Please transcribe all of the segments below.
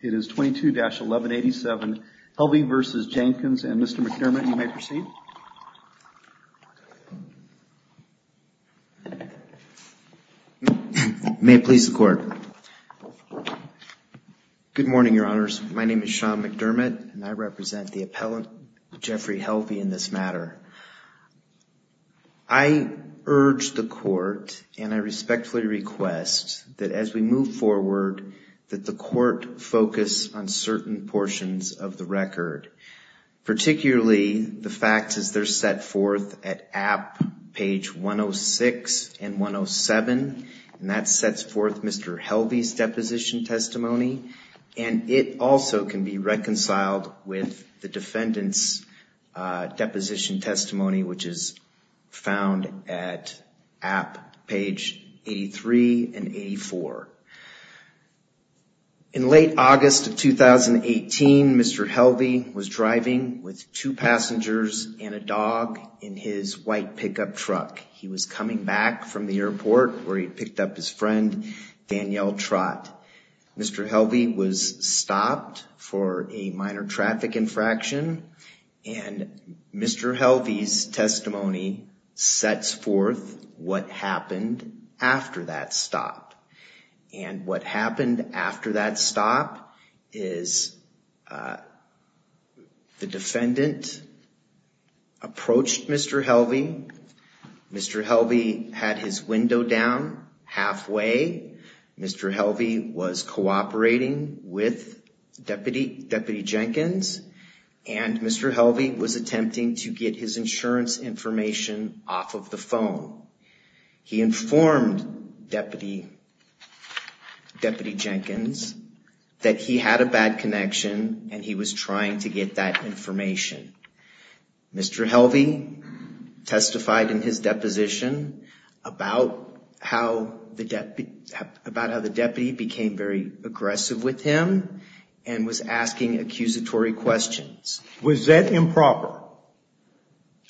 It is 22-1187, Helvie v. Jenkins, and Mr. McDermott, you may proceed. May it please the Court. Good morning, Your Honors. My name is Sean McDermott, and I represent the appellant, Jeffrey Helvie, in this matter. I urge the Court, and I respectfully request, that as we move forward, that the Court focus on certain portions of the record, particularly the facts as they're set forth at app. Page 106 and 107, and that sets forth Mr. Helvie's deposition testimony, and it also can be reconciled with the defendant's deposition testimony, which is found at app. Page 83 and 84. In late August of 2018, Mr. Helvie was driving with two passengers and a dog in his white pickup truck. He was coming back from the airport, where he picked up his friend, Danielle Trott. Mr. Helvie was stopped for a minor traffic infraction, and Mr. Helvie's testimony sets forth what happened after that stop. And what happened after that stop is the defendant approached Mr. Helvie. Mr. Helvie had his window down halfway. Mr. Helvie was cooperating with Deputy Jenkins, and Mr. Helvie was attempting to get his insurance information off of the phone. He informed Deputy Jenkins that he had a bad connection, and he was trying to get that information. Mr. Helvie testified in his deposition about how the deputy became very aggressive with him and was asking accusatory questions. Was that improper?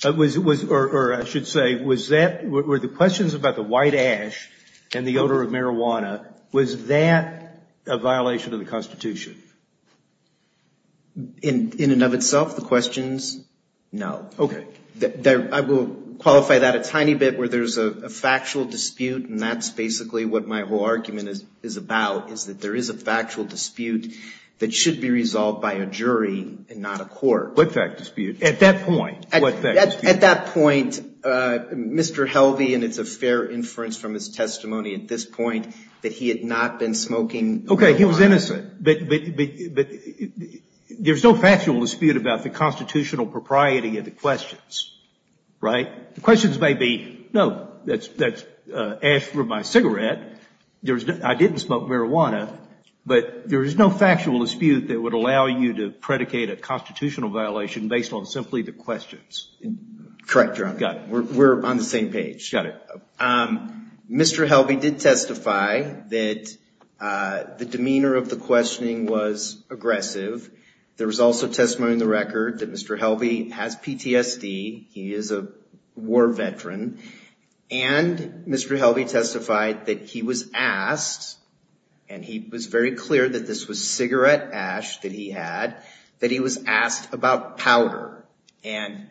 Or I should say, were the questions about the white ash and the odor of marijuana, was that a violation of the Constitution? In and of itself, the questions, no. I will qualify that a tiny bit where there's a factual dispute, and that's basically what my whole argument is about, is that there is a factual dispute that should be resolved by a jury and not a court. What fact dispute? At that point, what fact dispute? At that point, Mr. Helvie, and it's a fair inference from his testimony at this point, that he had not been smoking marijuana. Okay, he was innocent, but there's no factual dispute about the constitutional propriety of the questions. Right? The questions may be, no, that's ash for my cigarette, I didn't smoke marijuana, but there is no factual dispute that would allow you to predicate a constitutional violation based on simply the questions. Correct, Your Honor. Got it. We're on the same page. Got it. Mr. Helvie did testify that the demeanor of the questioning was aggressive. There was also testimony in the record that Mr. Helvie has PTSD, he is a war veteran, and Mr. Helvie testified that he was asked, and he was very clear that this was cigarette ash that he had, that he was asked about powder. And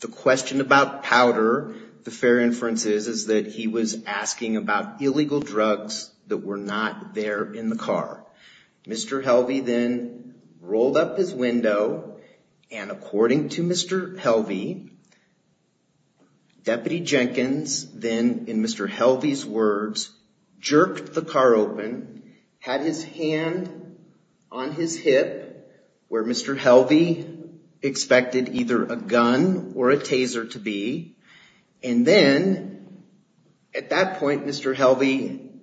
the question about powder, the fair inference is, is that he was asking about illegal drugs that were not there in the car. Mr. Helvie then rolled up his window, and according to Mr. Helvie, Deputy Jenkins then, in Mr. Helvie's words, jerked the car open, had his hand on his hip, where Mr. Helvie expected either a gun or a taser to be, and then, at that point, Mr. Helvie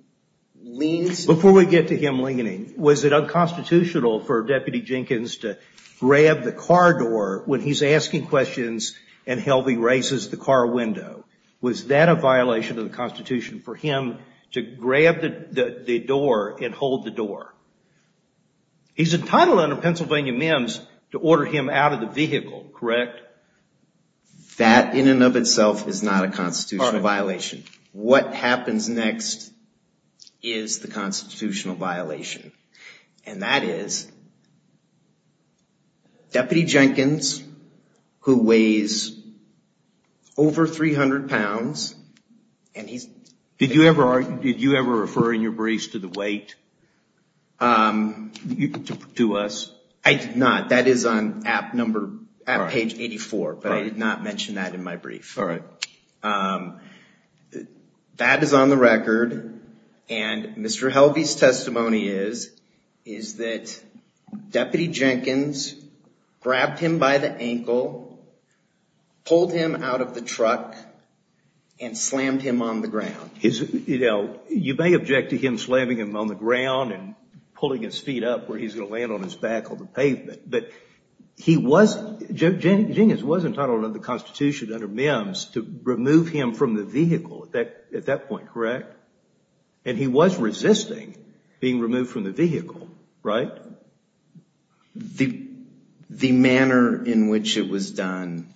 leans. Before we get to him leaning, was it unconstitutional for Deputy Jenkins to grab the car door when he's asking questions and Helvie raises the car window? Was that a violation of the Constitution for him to grab the door and hold the door? He's entitled under Pennsylvania MIMS to order him out of the vehicle, correct? That in and of itself is not a constitutional violation. What happens next is the constitutional violation, and that is Deputy Jenkins, who weighs over 300 pounds, and he's... Did you ever refer in your briefs to the weight? To us? I did not. That is on page 84, but I did not mention that in my brief. That is on the record, and Mr. Helvie's testimony is that Deputy Jenkins grabbed him by the back and slammed him on the ground. You may object to him slamming him on the ground and pulling his feet up where he's going to land on his back on the pavement, but he was... Jenkins was entitled under the Constitution under MIMS to remove him from the vehicle at that point, correct? He was resisting being removed from the vehicle, right? The manner in which it was done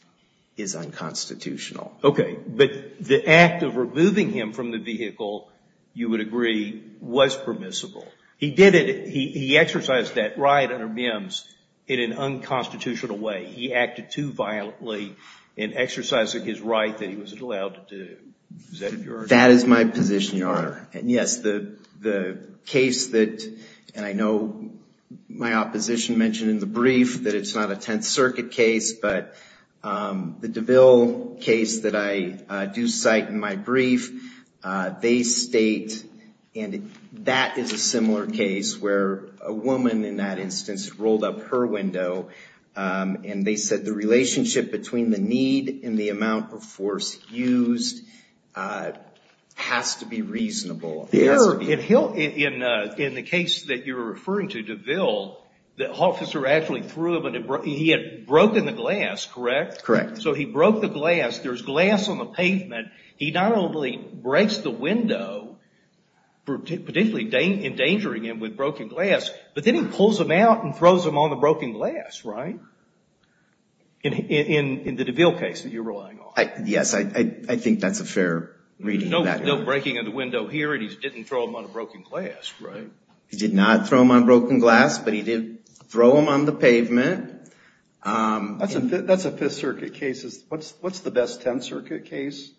is unconstitutional. Okay. But the act of removing him from the vehicle, you would agree, was permissible. He did it. He exercised that right under MIMS in an unconstitutional way. He acted too violently in exercising his right that he wasn't allowed to do. Is that your argument? That is my position, Your Honor. Yes. The case that, and I know my opposition mentioned in the brief that it's not a Tenth Circuit case, but the DeVille case that I do cite in my brief, they state, and that is a similar case where a woman in that instance rolled up her window and they said the relationship between the need and the amount of force used has to be reasonable. In the case that you're referring to, DeVille, the officer actually threw him, he had broken the glass, correct? Correct. So he broke the glass. There's glass on the pavement. He not only breaks the window, particularly endangering him with broken glass, but then pulls him out and throws him on the broken glass, right, in the DeVille case that you're relying on? Yes. I think that's a fair reading. No breaking of the window here and he didn't throw him on a broken glass, right? He did not throw him on broken glass, but he did throw him on the pavement. That's a Fifth Circuit case. What's the best Tenth Circuit case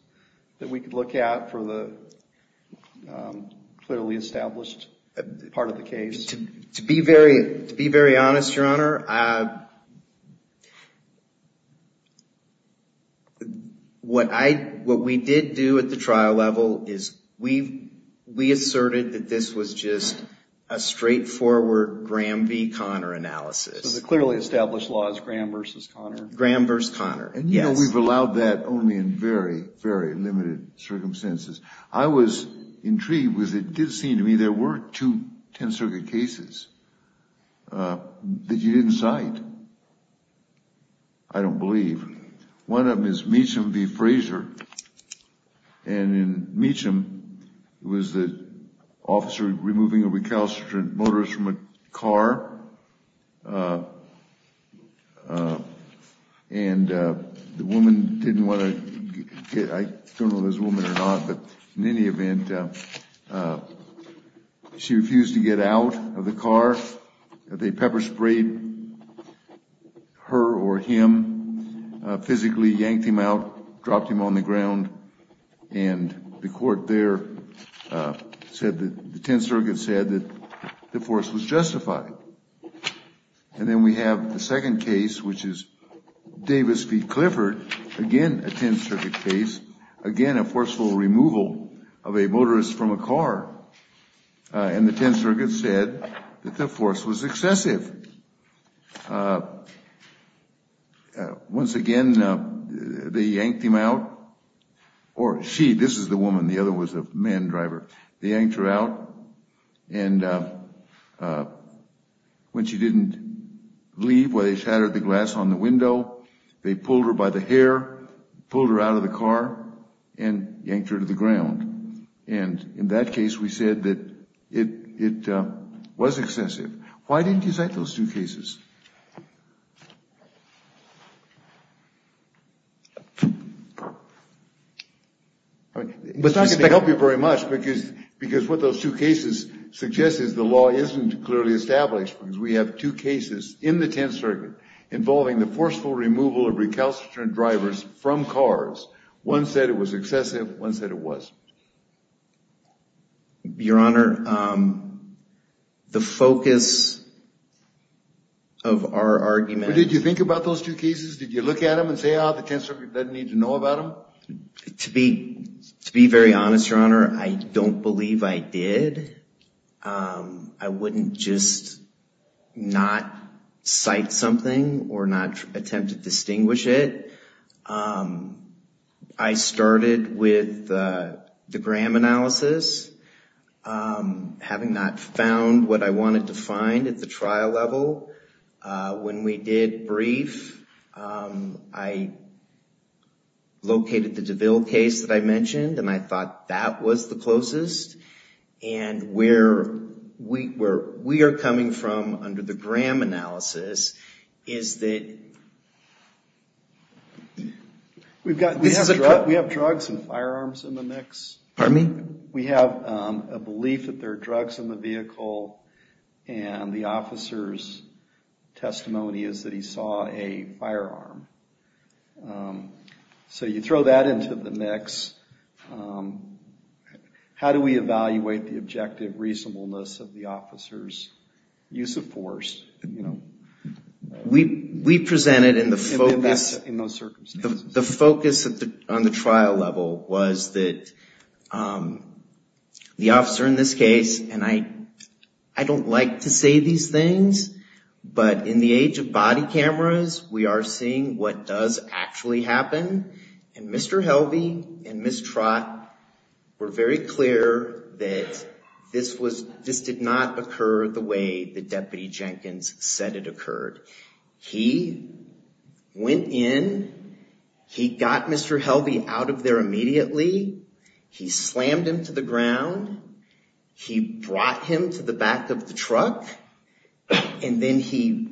that we could look at for the clearly established part of the case? To be very honest, Your Honor, what we did do at the trial level is we asserted that this was just a straightforward Graham v. Conner analysis. So the clearly established law is Graham versus Conner? Graham versus Conner, yes. And you know we've allowed that only in very, very limited circumstances. I was intrigued because it did seem to me there were two Tenth Circuit cases that you didn't cite. I don't believe. One of them is Meacham v. Frazier. And in Meacham, it was the officer removing a recalcitrant motorist from a car. And the woman didn't want to, I don't know if it was a woman or not, but in any event, she refused to get out of the car. They pepper sprayed her or him, physically yanked him out, dropped him on the ground, and the court there said that the Tenth Circuit said that the force was justified. And then we have the second case, which is Davis v. Clifford, again a Tenth Circuit case, again a forceful removal of a motorist from a car. And the Tenth Circuit said that the force was excessive. Once again, they yanked him out, or she, this is the woman, the other was a man driver, they yanked her out, and when she didn't leave, where they shattered the glass on the window, they pulled her by the hair, pulled her out of the car, and yanked her to the ground. And in that case, we said that it was excessive. Why didn't you cite those two cases? It's not going to help you very much, because what those two cases suggest is the law isn't clearly established, because we have two cases in the Tenth Circuit involving the forceful removal of recalcitrant drivers from cars. One said it was excessive, one said it wasn't. Your Honor, the focus of our argument... Did you think about those two cases? Did you look at them and say, ah, the Tenth Circuit doesn't need to know about them? To be very honest, Your Honor, I don't believe I did. I wouldn't just not cite something or not attempt to distinguish it. I started with the Graham analysis, having not found what I wanted to find at the trial level. When we did brief, I located the DeVille case that I mentioned, and I thought that was the closest. And where we are coming from under the Graham analysis is that... We have drugs and firearms in the mix. Pardon me? We have a belief that there are drugs in the vehicle, and the officer's testimony is that he saw a firearm. So you throw that into the mix. How do we evaluate the objective reasonableness of the officer's use of force? We presented in the focus... In those circumstances? The focus on the trial level was that the officer in this case... And I don't like to say these things, but in the age of body cameras, we are seeing what does actually happen. And Mr. Helvey and Ms. Trott were very clear that this did not occur the way that Deputy Jenkins said it occurred. He went in, he got Mr. Helvey out of there immediately, he slammed him to the ground, he brought him to the back of the truck, and then he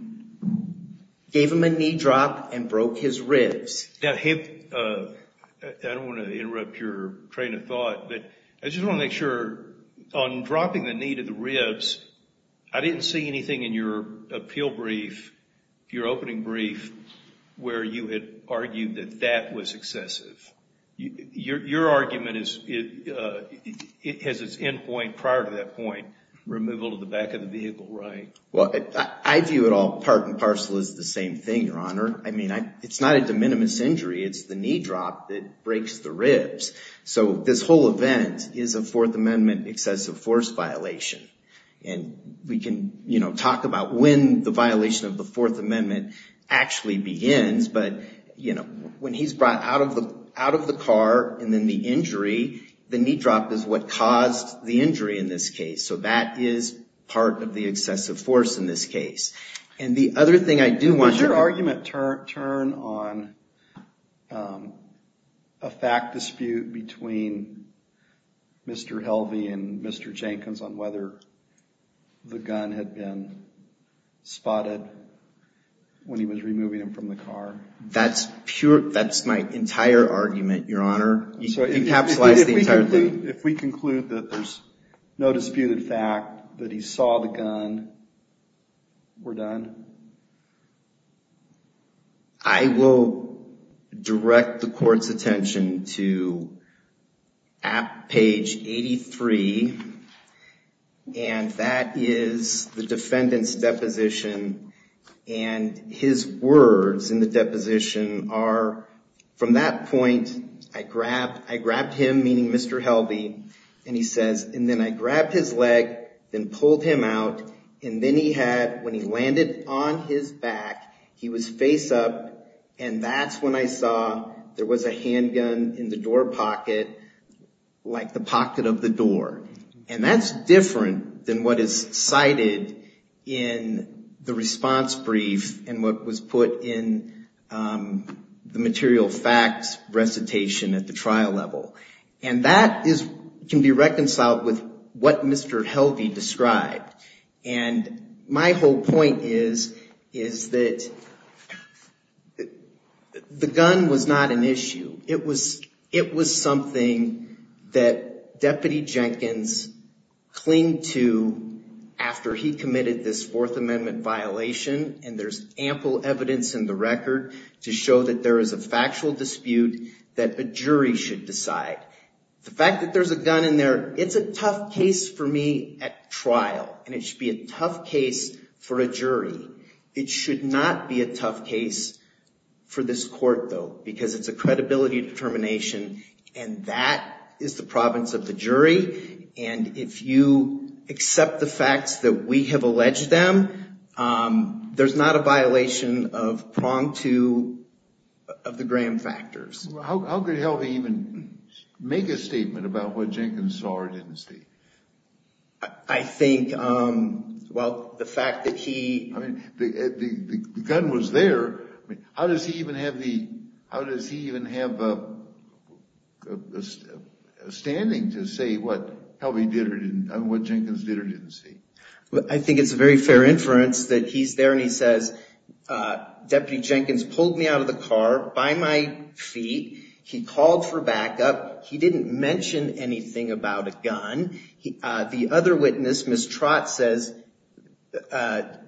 gave him a knee drop and broke his ribs. I don't want to interrupt your train of thought, but I just want to make sure, on dropping the knee to the ribs, I didn't see anything in your appeal brief, your opening brief, where you had argued that that was excessive. Your argument has its end point prior to that point, removal to the back of the vehicle, right? Well, I view it all part and parcel as the same thing, Your Honor. It's not a de minimis injury, it's the knee drop that breaks the ribs. So this whole event is a Fourth Amendment excessive force violation. And we can talk about when the violation of the Fourth Amendment actually begins, but when he's brought out of the car and then the injury, the knee drop is what caused the injury in this case. So that is part of the excessive force in this case. And the other thing I do want to... Does your argument turn on a fact dispute between Mr. Helvey and Mr. Jenkins on whether the gun had been spotted when he was removing him from the car? That's pure, that's my entire argument, Your Honor. If we conclude that there's no disputed fact that he saw the gun, we're done? I will direct the court's attention to page 83. And that is the defendant's deposition. And his words in the deposition are, from that point, I grabbed him, meaning Mr. Helvey, and he says, and then I grabbed his leg and pulled him out. And then he had, when he landed on his back, he was face up. And that's when I saw there was a handgun in the door pocket, like the pocket of the door. And that's different than what is cited in the response brief and what was put in the material facts recitation at the trial level. And that can be reconciled with what Mr. Helvey described. And my whole point is that the gun was not an issue. It was something that Deputy Jenkins clinged to after he committed this Fourth Amendment violation. And there's ample evidence in the record to show that there is a factual dispute that a jury should decide. The fact that there's a gun in there, it's a tough case for me at trial. And it should be a tough case for a jury. It should not be a tough case for this court, though, because it's a credibility determination. And that is the province of the jury. And if you accept the facts that we have alleged them, there's not a violation of prong two of the Graham factors. How could Helvey even make a statement about what Jenkins saw or didn't see? I think, well, the fact that he... I mean, the gun was there. How does he even have the... How does he even have a standing to say what Helvey did or didn't, what Jenkins did or didn't see? I think it's a very fair inference that he's there and he says, Deputy Jenkins pulled me out of the car by my feet. He called for backup. He didn't mention anything about a gun. The other witness, Ms. Trott, says, the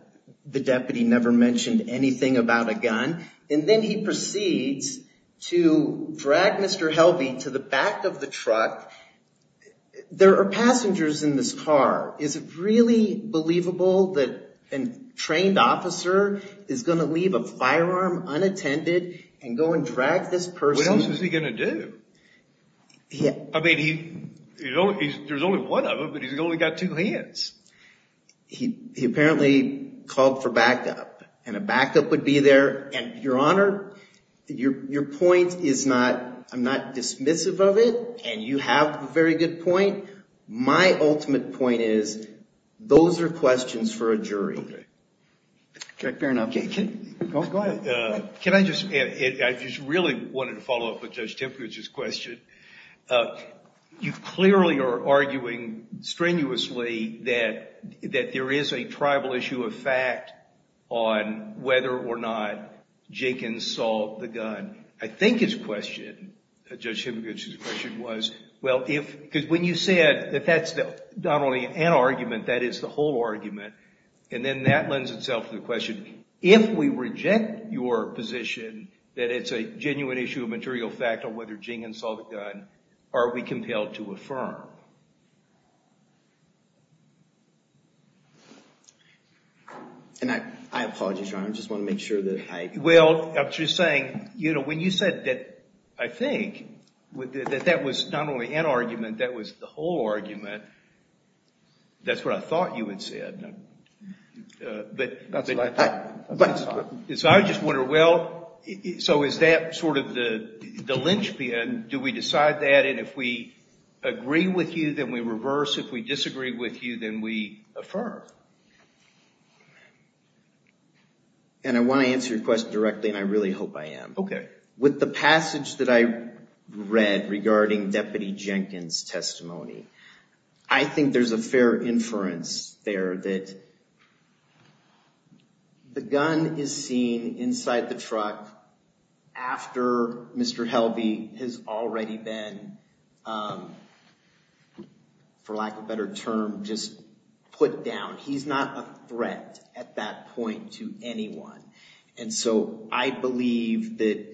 deputy never mentioned anything about a gun. And then he proceeds to drag Mr. Helvey to the back of the truck. There are passengers in this car. Is it really believable that a trained officer is going to leave a firearm unattended and go and drag this person? What else is he going to do? I mean, there's only one of him, but he's only got two hands. He apparently called for backup. And a backup would be there. And, Your Honor, your point is not... I'm not dismissive of it. And you have a very good point. My ultimate point is those are questions for a jury. Fair enough. Go ahead. Can I just... I just really wanted to follow up with Judge Timpkins' question. You clearly are arguing strenuously that there is a tribal issue of fact on whether or not Jenkins saw the gun. I think his question, Judge Timpkins' question was, well, if... Because when you said that that's not only an argument, that is the whole argument, and then that lends itself to the question, if we reject your position that it's a genuine issue of material fact on whether Jenkins saw the gun, are we compelled to affirm? And I apologize, Your Honor. I just want to make sure that I... Well, I'm just saying, you know, when you said that, I think, that that was not only an argument, that was the whole argument, that's what I thought you had said. So I just wonder, well, so is that sort of the linchpin? Do we decide that? And if we agree with you, then we reverse. If we disagree with you, then we affirm. And I want to answer your question directly, and I really hope I am. Okay. With the passage that I read regarding Deputy Jenkins' testimony, I think there's a fair inference there that the gun is seen inside the truck after Mr. Helvey has already been, for lack of a better term, just put down. He's not a threat at that point to anyone. And so I believe that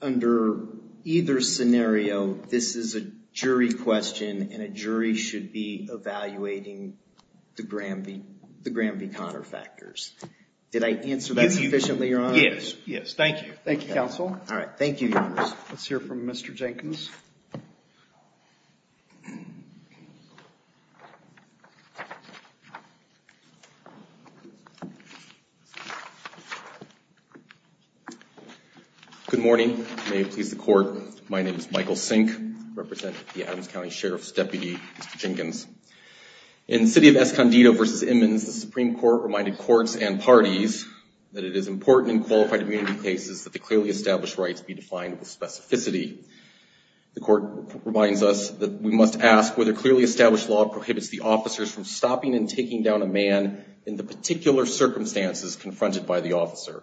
under either scenario, this is a jury question, and a jury should be evaluating the Graham v. Conner factors. Did I answer that sufficiently, Your Honor? Yes. Yes. Thank you. Thank you, counsel. All right. Thank you, Your Honor. Let's hear from Mr. Jenkins. Good morning. May it please the Court, my name is Michael Sink. I represent the Adams County Sheriff's Deputy, Mr. Jenkins. In the City of Escondido v. Immins, the Supreme Court reminded courts and parties that it is important in The Court reminds us that we must ask whether clearly established law prohibits the officers from stopping and taking down a man in the particular circumstances confronted by the officer.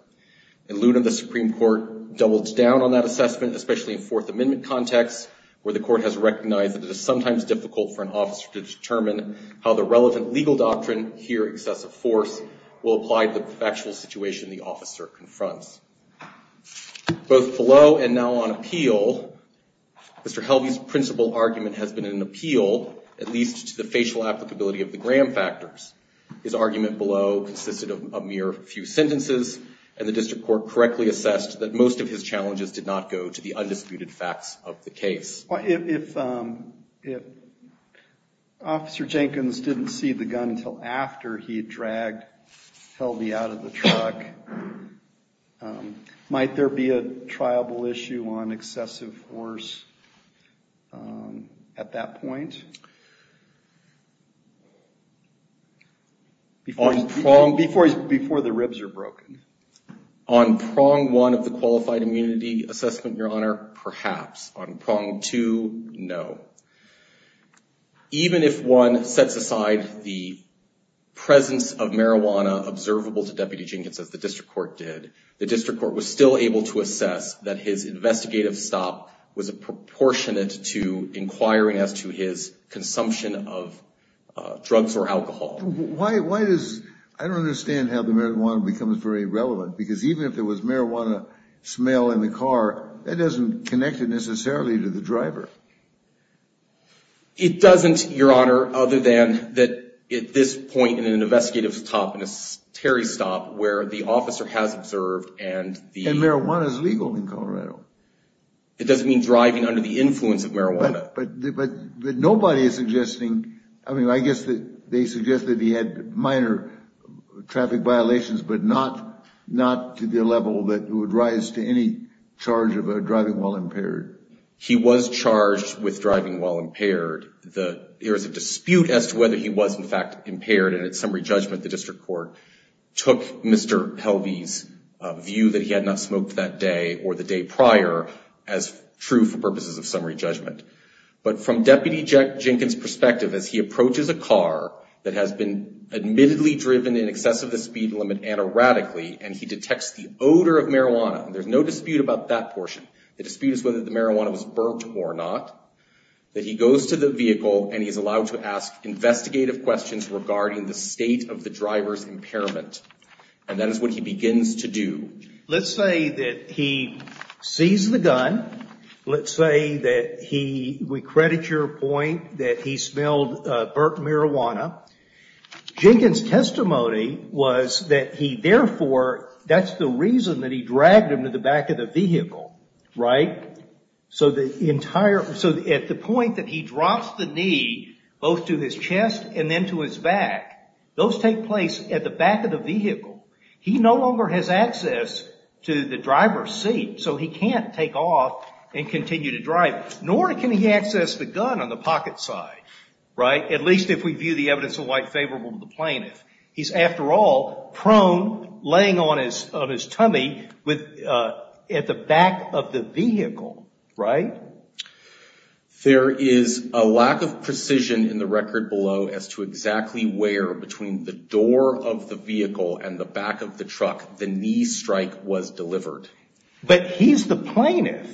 In Luna, the Supreme Court doubled down on that assessment, especially in Fourth Amendment context, where the Court has recognized that it is sometimes difficult for an officer to determine how the relevant legal doctrine, here excessive force, will apply to the factual situation the officer confronts. Both below and now on appeal, Mr. Helvey's principal argument has been an appeal, at least to the facial applicability of the Graham factors. His argument below consisted of a mere few sentences, and the District Court correctly assessed that most of his challenges did not go to the undisputed facts of the case. If Officer Jenkins didn't see the gun until after he had dragged Helvey out of the truck, might there be a trialable issue on excessive force at that point? Before the ribs are broken. On prong one of the qualified immunity assessment, Your Honor, perhaps. On prong two, no. Even if one sets aside the presence of marijuana observable to Deputy J. Jenkins, as the District Court did, the District Court was still able to assess that his investigative stop was proportionate to inquiring as to his consumption of drugs or alcohol. Why does, I don't understand how the marijuana becomes very relevant, because even if there was marijuana smell in the car, that doesn't connect it necessarily to the driver. It doesn't, Your Honor, other than that at this point in an investigative stop and a Terry stop where the officer has observed and the. And marijuana is legal in Colorado. It doesn't mean driving under the influence of marijuana. But nobody is suggesting, I mean, I guess they suggest that he had minor traffic violations, but not to the level that would rise to any charge of driving while impaired. He was charged with driving while impaired. There is a dispute as to whether he was in fact impaired, and at summary judgment, the District Court took Mr. Helvey's view that he had not smoked that day or the day prior as true for purposes of summary judgment. But from Deputy Jenkins' perspective, as he approaches a car that has been admittedly driven in excess of the speed limit and erratically, and he detects the odor of marijuana, there's no dispute about that portion. The dispute is whether the marijuana was burnt or not, that he goes to the vehicle and he's allowed to ask investigative questions regarding the state of the driver's impairment. And that is what he begins to do. Let's say that he sees the gun. Let's say that he, we credit your point, that he smelled burnt marijuana. Jenkins' testimony was that he therefore, that's the reason that he dragged him to the back of the vehicle, right? So the entire, so at the point that he drops the knee, both to his chest and then to his back, those take place at the back of the vehicle. He no longer has access to the driver's seat, so he can't take off and continue to drive, nor can he access the gun on the pocket side, right? At least if we view the evidence in white favorable to the plaintiff. He's after all prone, laying on his tummy at the back of the vehicle, right? There is a lack of precision in the record below as to exactly where, between the door of the vehicle and the back of the truck, the knee strike was delivered. But he's the plaintiff.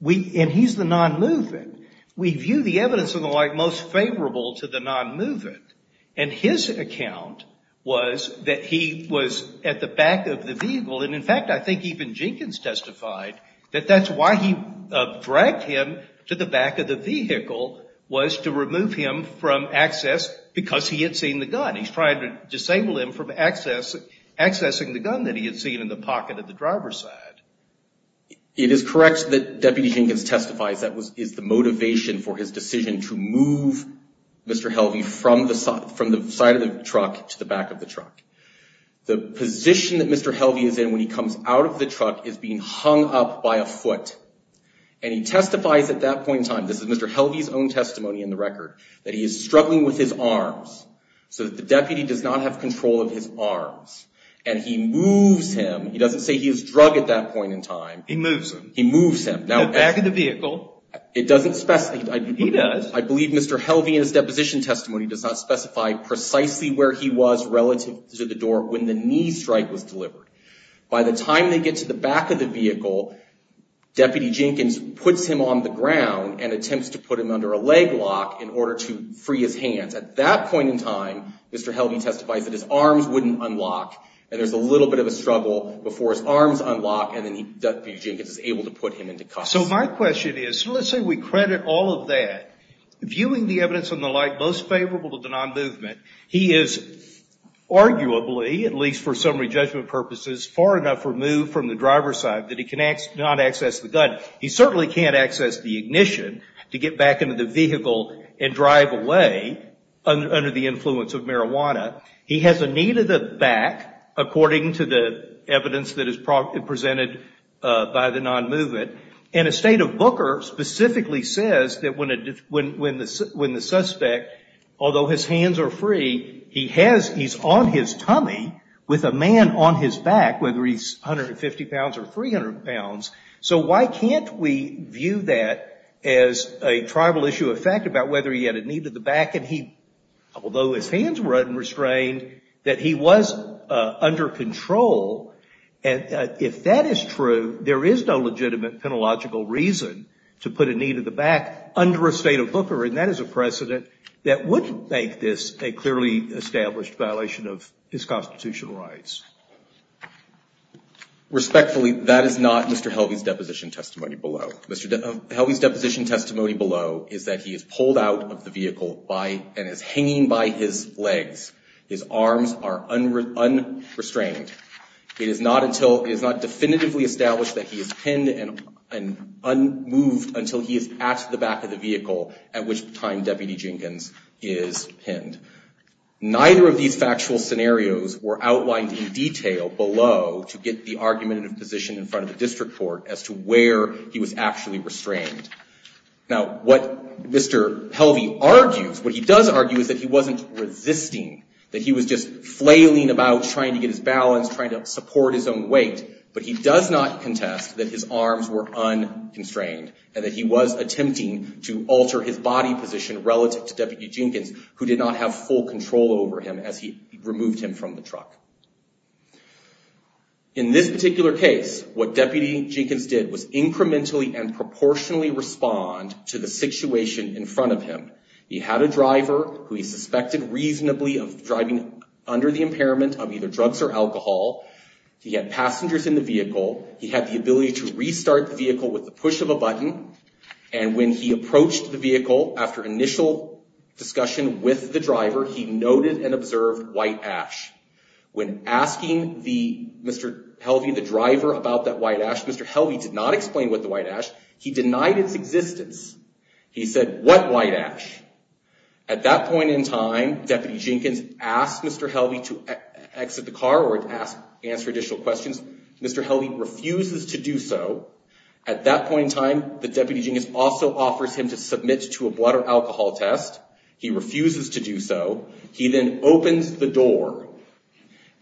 And he's the non-movement. We view the evidence in the white most favorable to the non-movement. And his account was that he was at the back of the vehicle, and in fact I think even Jenkins testified that that's why he dragged him to the back of the vehicle was to remove him from access because he had seen the gun. He's trying to disable him from accessing the gun that he had seen in the pocket of the driver's side. It is correct that Deputy Jenkins testifies that is the motivation for his decision to move Mr. Helvey from the side of the truck to the back of the truck. The position that Mr. Helvey is in when he comes out of the truck is being hung up by a foot. And he testifies at that point in time, this is Mr. Helvey's own testimony in the record, that he is struggling with his arms, so that the deputy does not have control of his arms. And he moves him. He doesn't say he is drug at that point in time. He moves him. He moves him. The back of the vehicle. It doesn't specify. He does. I believe Mr. Helvey in his deposition testimony does not specify precisely where he was relative to the door when the knee strike was delivered. By the time they get to the back of the vehicle, Deputy Jenkins puts him on the ground and attempts to put him under a leg lock in order to free his hands. At that point in time, Mr. Helvey testifies that his arms wouldn't unlock. And there is a little bit of a struggle before his arms unlock and then Deputy Jenkins is able to put him into custody. So my question is, let's say we credit all of that. Viewing the evidence and the like, most favorable to the non-movement, he is arguably, at least for summary judgment purposes, far enough removed from the driver's side that he cannot access the gun. He certainly can't access the ignition to get back into the vehicle and drive away under the influence of marijuana. He has a knee to the back, according to the evidence that is presented by the non-movement. And a state of Booker specifically says that when the suspect, although his hands are free, he's on his tummy with a man on his back, whether he's 150 pounds or 300 pounds. So why can't we view that as a tribal issue of fact about whether he had a knee to the back and he, although his hands were unrestrained, that he was under control. And if that is true, there is no legitimate penalogical reason to put a knee to the back under a state of Booker, and that is a precedent that would make this a clearly established violation of his constitutional rights. Respectfully, that is not Mr. Helvey's deposition testimony below. Mr. Helvey's deposition testimony below is that he is pulled out of the vehicle and is hanging by his legs. His arms are unrestrained. It is not definitively established that he is pinned and unmoved until he is at the back of the vehicle, at which time Deputy Jenkins is pinned. Neither of these factual scenarios were outlined in detail below to get the argumentative position in front of the district court as to where he was actually restrained. Now, what Mr. Helvey argues, what he does argue is that he wasn't resisting, that he was just flailing about trying to get his balance, trying to support his own weight, but he does not contest that his arms were unconstrained and that he was attempting to alter his body position relative to Deputy Jenkins, who did not have full control over him as he removed him from the truck. In this particular case, what Deputy Jenkins did was incrementally and proportionally respond to the situation in front of him. He had a driver who he suspected reasonably of driving under the impairment of either drugs or alcohol. He had passengers in the vehicle. He had the ability to restart the vehicle with the push of a button, and when he approached the vehicle after initial discussion with the driver, he noted and observed white ash. When asking Mr. Helvey, the driver, about that white ash, Mr. Helvey did not explain what the white ash. He denied its existence. He said, what white ash? At that point in time, Deputy Jenkins asked Mr. Helvey to exit the car or to answer additional questions. Mr. Helvey refuses to do so. At that point in time, the Deputy Jenkins also offers him to submit to a blood or alcohol test. He refuses to do so. He then opens the door,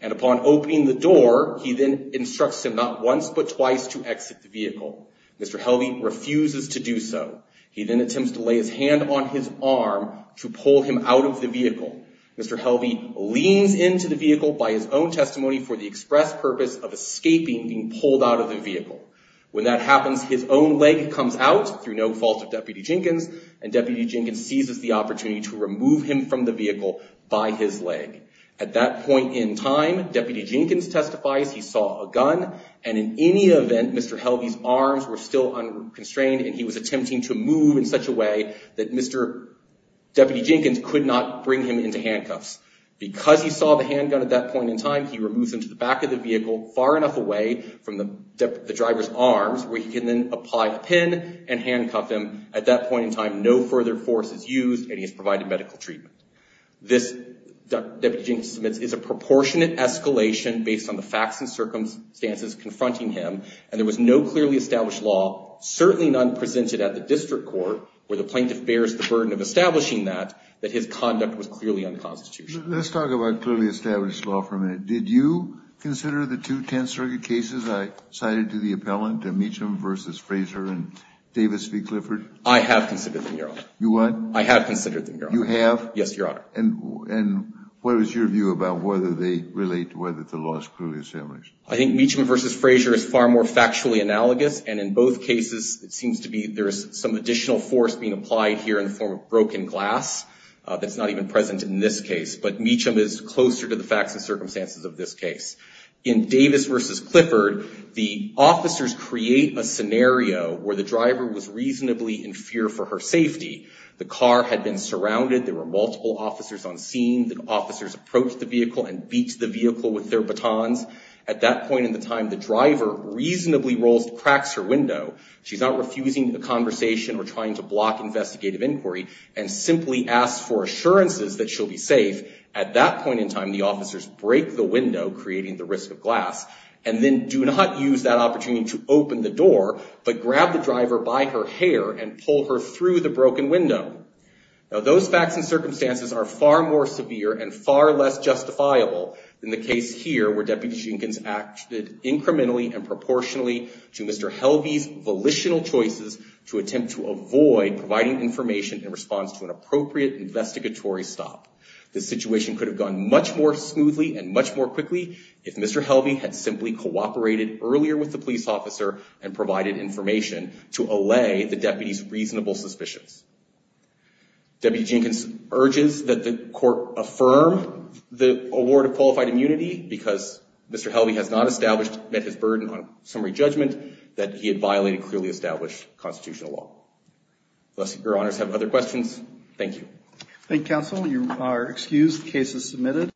and upon opening the door, he then instructs him not once but twice to exit the vehicle. Mr. Helvey refuses to do so. He then attempts to lay his hand on his arm to pull him out of the vehicle. Mr. Helvey leans into the vehicle by his own testimony for the express purpose of escaping being pulled out of the vehicle. When that happens, his own leg comes out through no fault of Deputy Jenkins, and Deputy Jenkins seizes the opportunity to remove him from the vehicle by his leg. At that point in time, Deputy Jenkins testifies he saw a gun, and in any event, Mr. Helvey's arms were still unconstrained, and he was attempting to move in such a way that Mr. Deputy Jenkins could not bring him into handcuffs. Because he saw the handgun at that point in time, he removes him to the back of the vehicle far enough away from the driver's arms where he can then apply a pin and handcuff him. At that point in time, no further force is used, and he is provided medical treatment. This, Deputy Jenkins submits, is a proportionate escalation based on the facts and circumstances confronting him, and there was no clearly established law, certainly none presented at the district court, where the plaintiff bears the burden of establishing that, that his conduct was clearly unconstitutional. Let's talk about clearly established law for a minute. Did you consider the two Tenth Circuit cases I cited to the appellant, Meacham v. Fraser and Davis v. Clifford? I have considered them, Your Honor. You what? I have considered them, Your Honor. You have? Yes, Your Honor. And what is your view about whether they relate to whether the law is clearly established? I think Meacham v. Fraser is far more factually analogous, and in both cases, it seems to be there is some additional force being applied here in the form of broken glass that's not even present in this case. But Meacham is closer to the facts and circumstances of this case. In Davis v. Clifford, the officers create a scenario where the driver was reasonably in fear for her safety. The car had been surrounded. There were multiple officers on scene. The officers approached the vehicle and beat the vehicle with their batons. At that point in the time, the driver reasonably rolls, cracks her window. She's not refusing a conversation or trying to block investigative inquiry and simply asks for assurances that she'll be safe, at that point in time, the officers break the window, creating the risk of glass, and then do not use that opportunity to open the door, but grab the driver by her hair and pull her through the broken window. Now, those facts and circumstances are far more severe and far less justifiable than the case here, where Deputy Jenkins acted incrementally and proportionally to Mr. Helvey's volitional choices to attempt to avoid providing information in response to an appropriate investigatory stop. The situation could have gone much more smoothly and much more quickly if Mr. Helvey had simply cooperated earlier with the police officer and provided information to allay the deputy's reasonable suspicions. Deputy Jenkins urges that the court affirm the award of qualified immunity because Mr. Helvey has not established that his burden on summary judgment that he had violated clearly established constitutional law. Unless your honors have other questions, thank you. Thank you, counsel. You are excused. Case is submitted.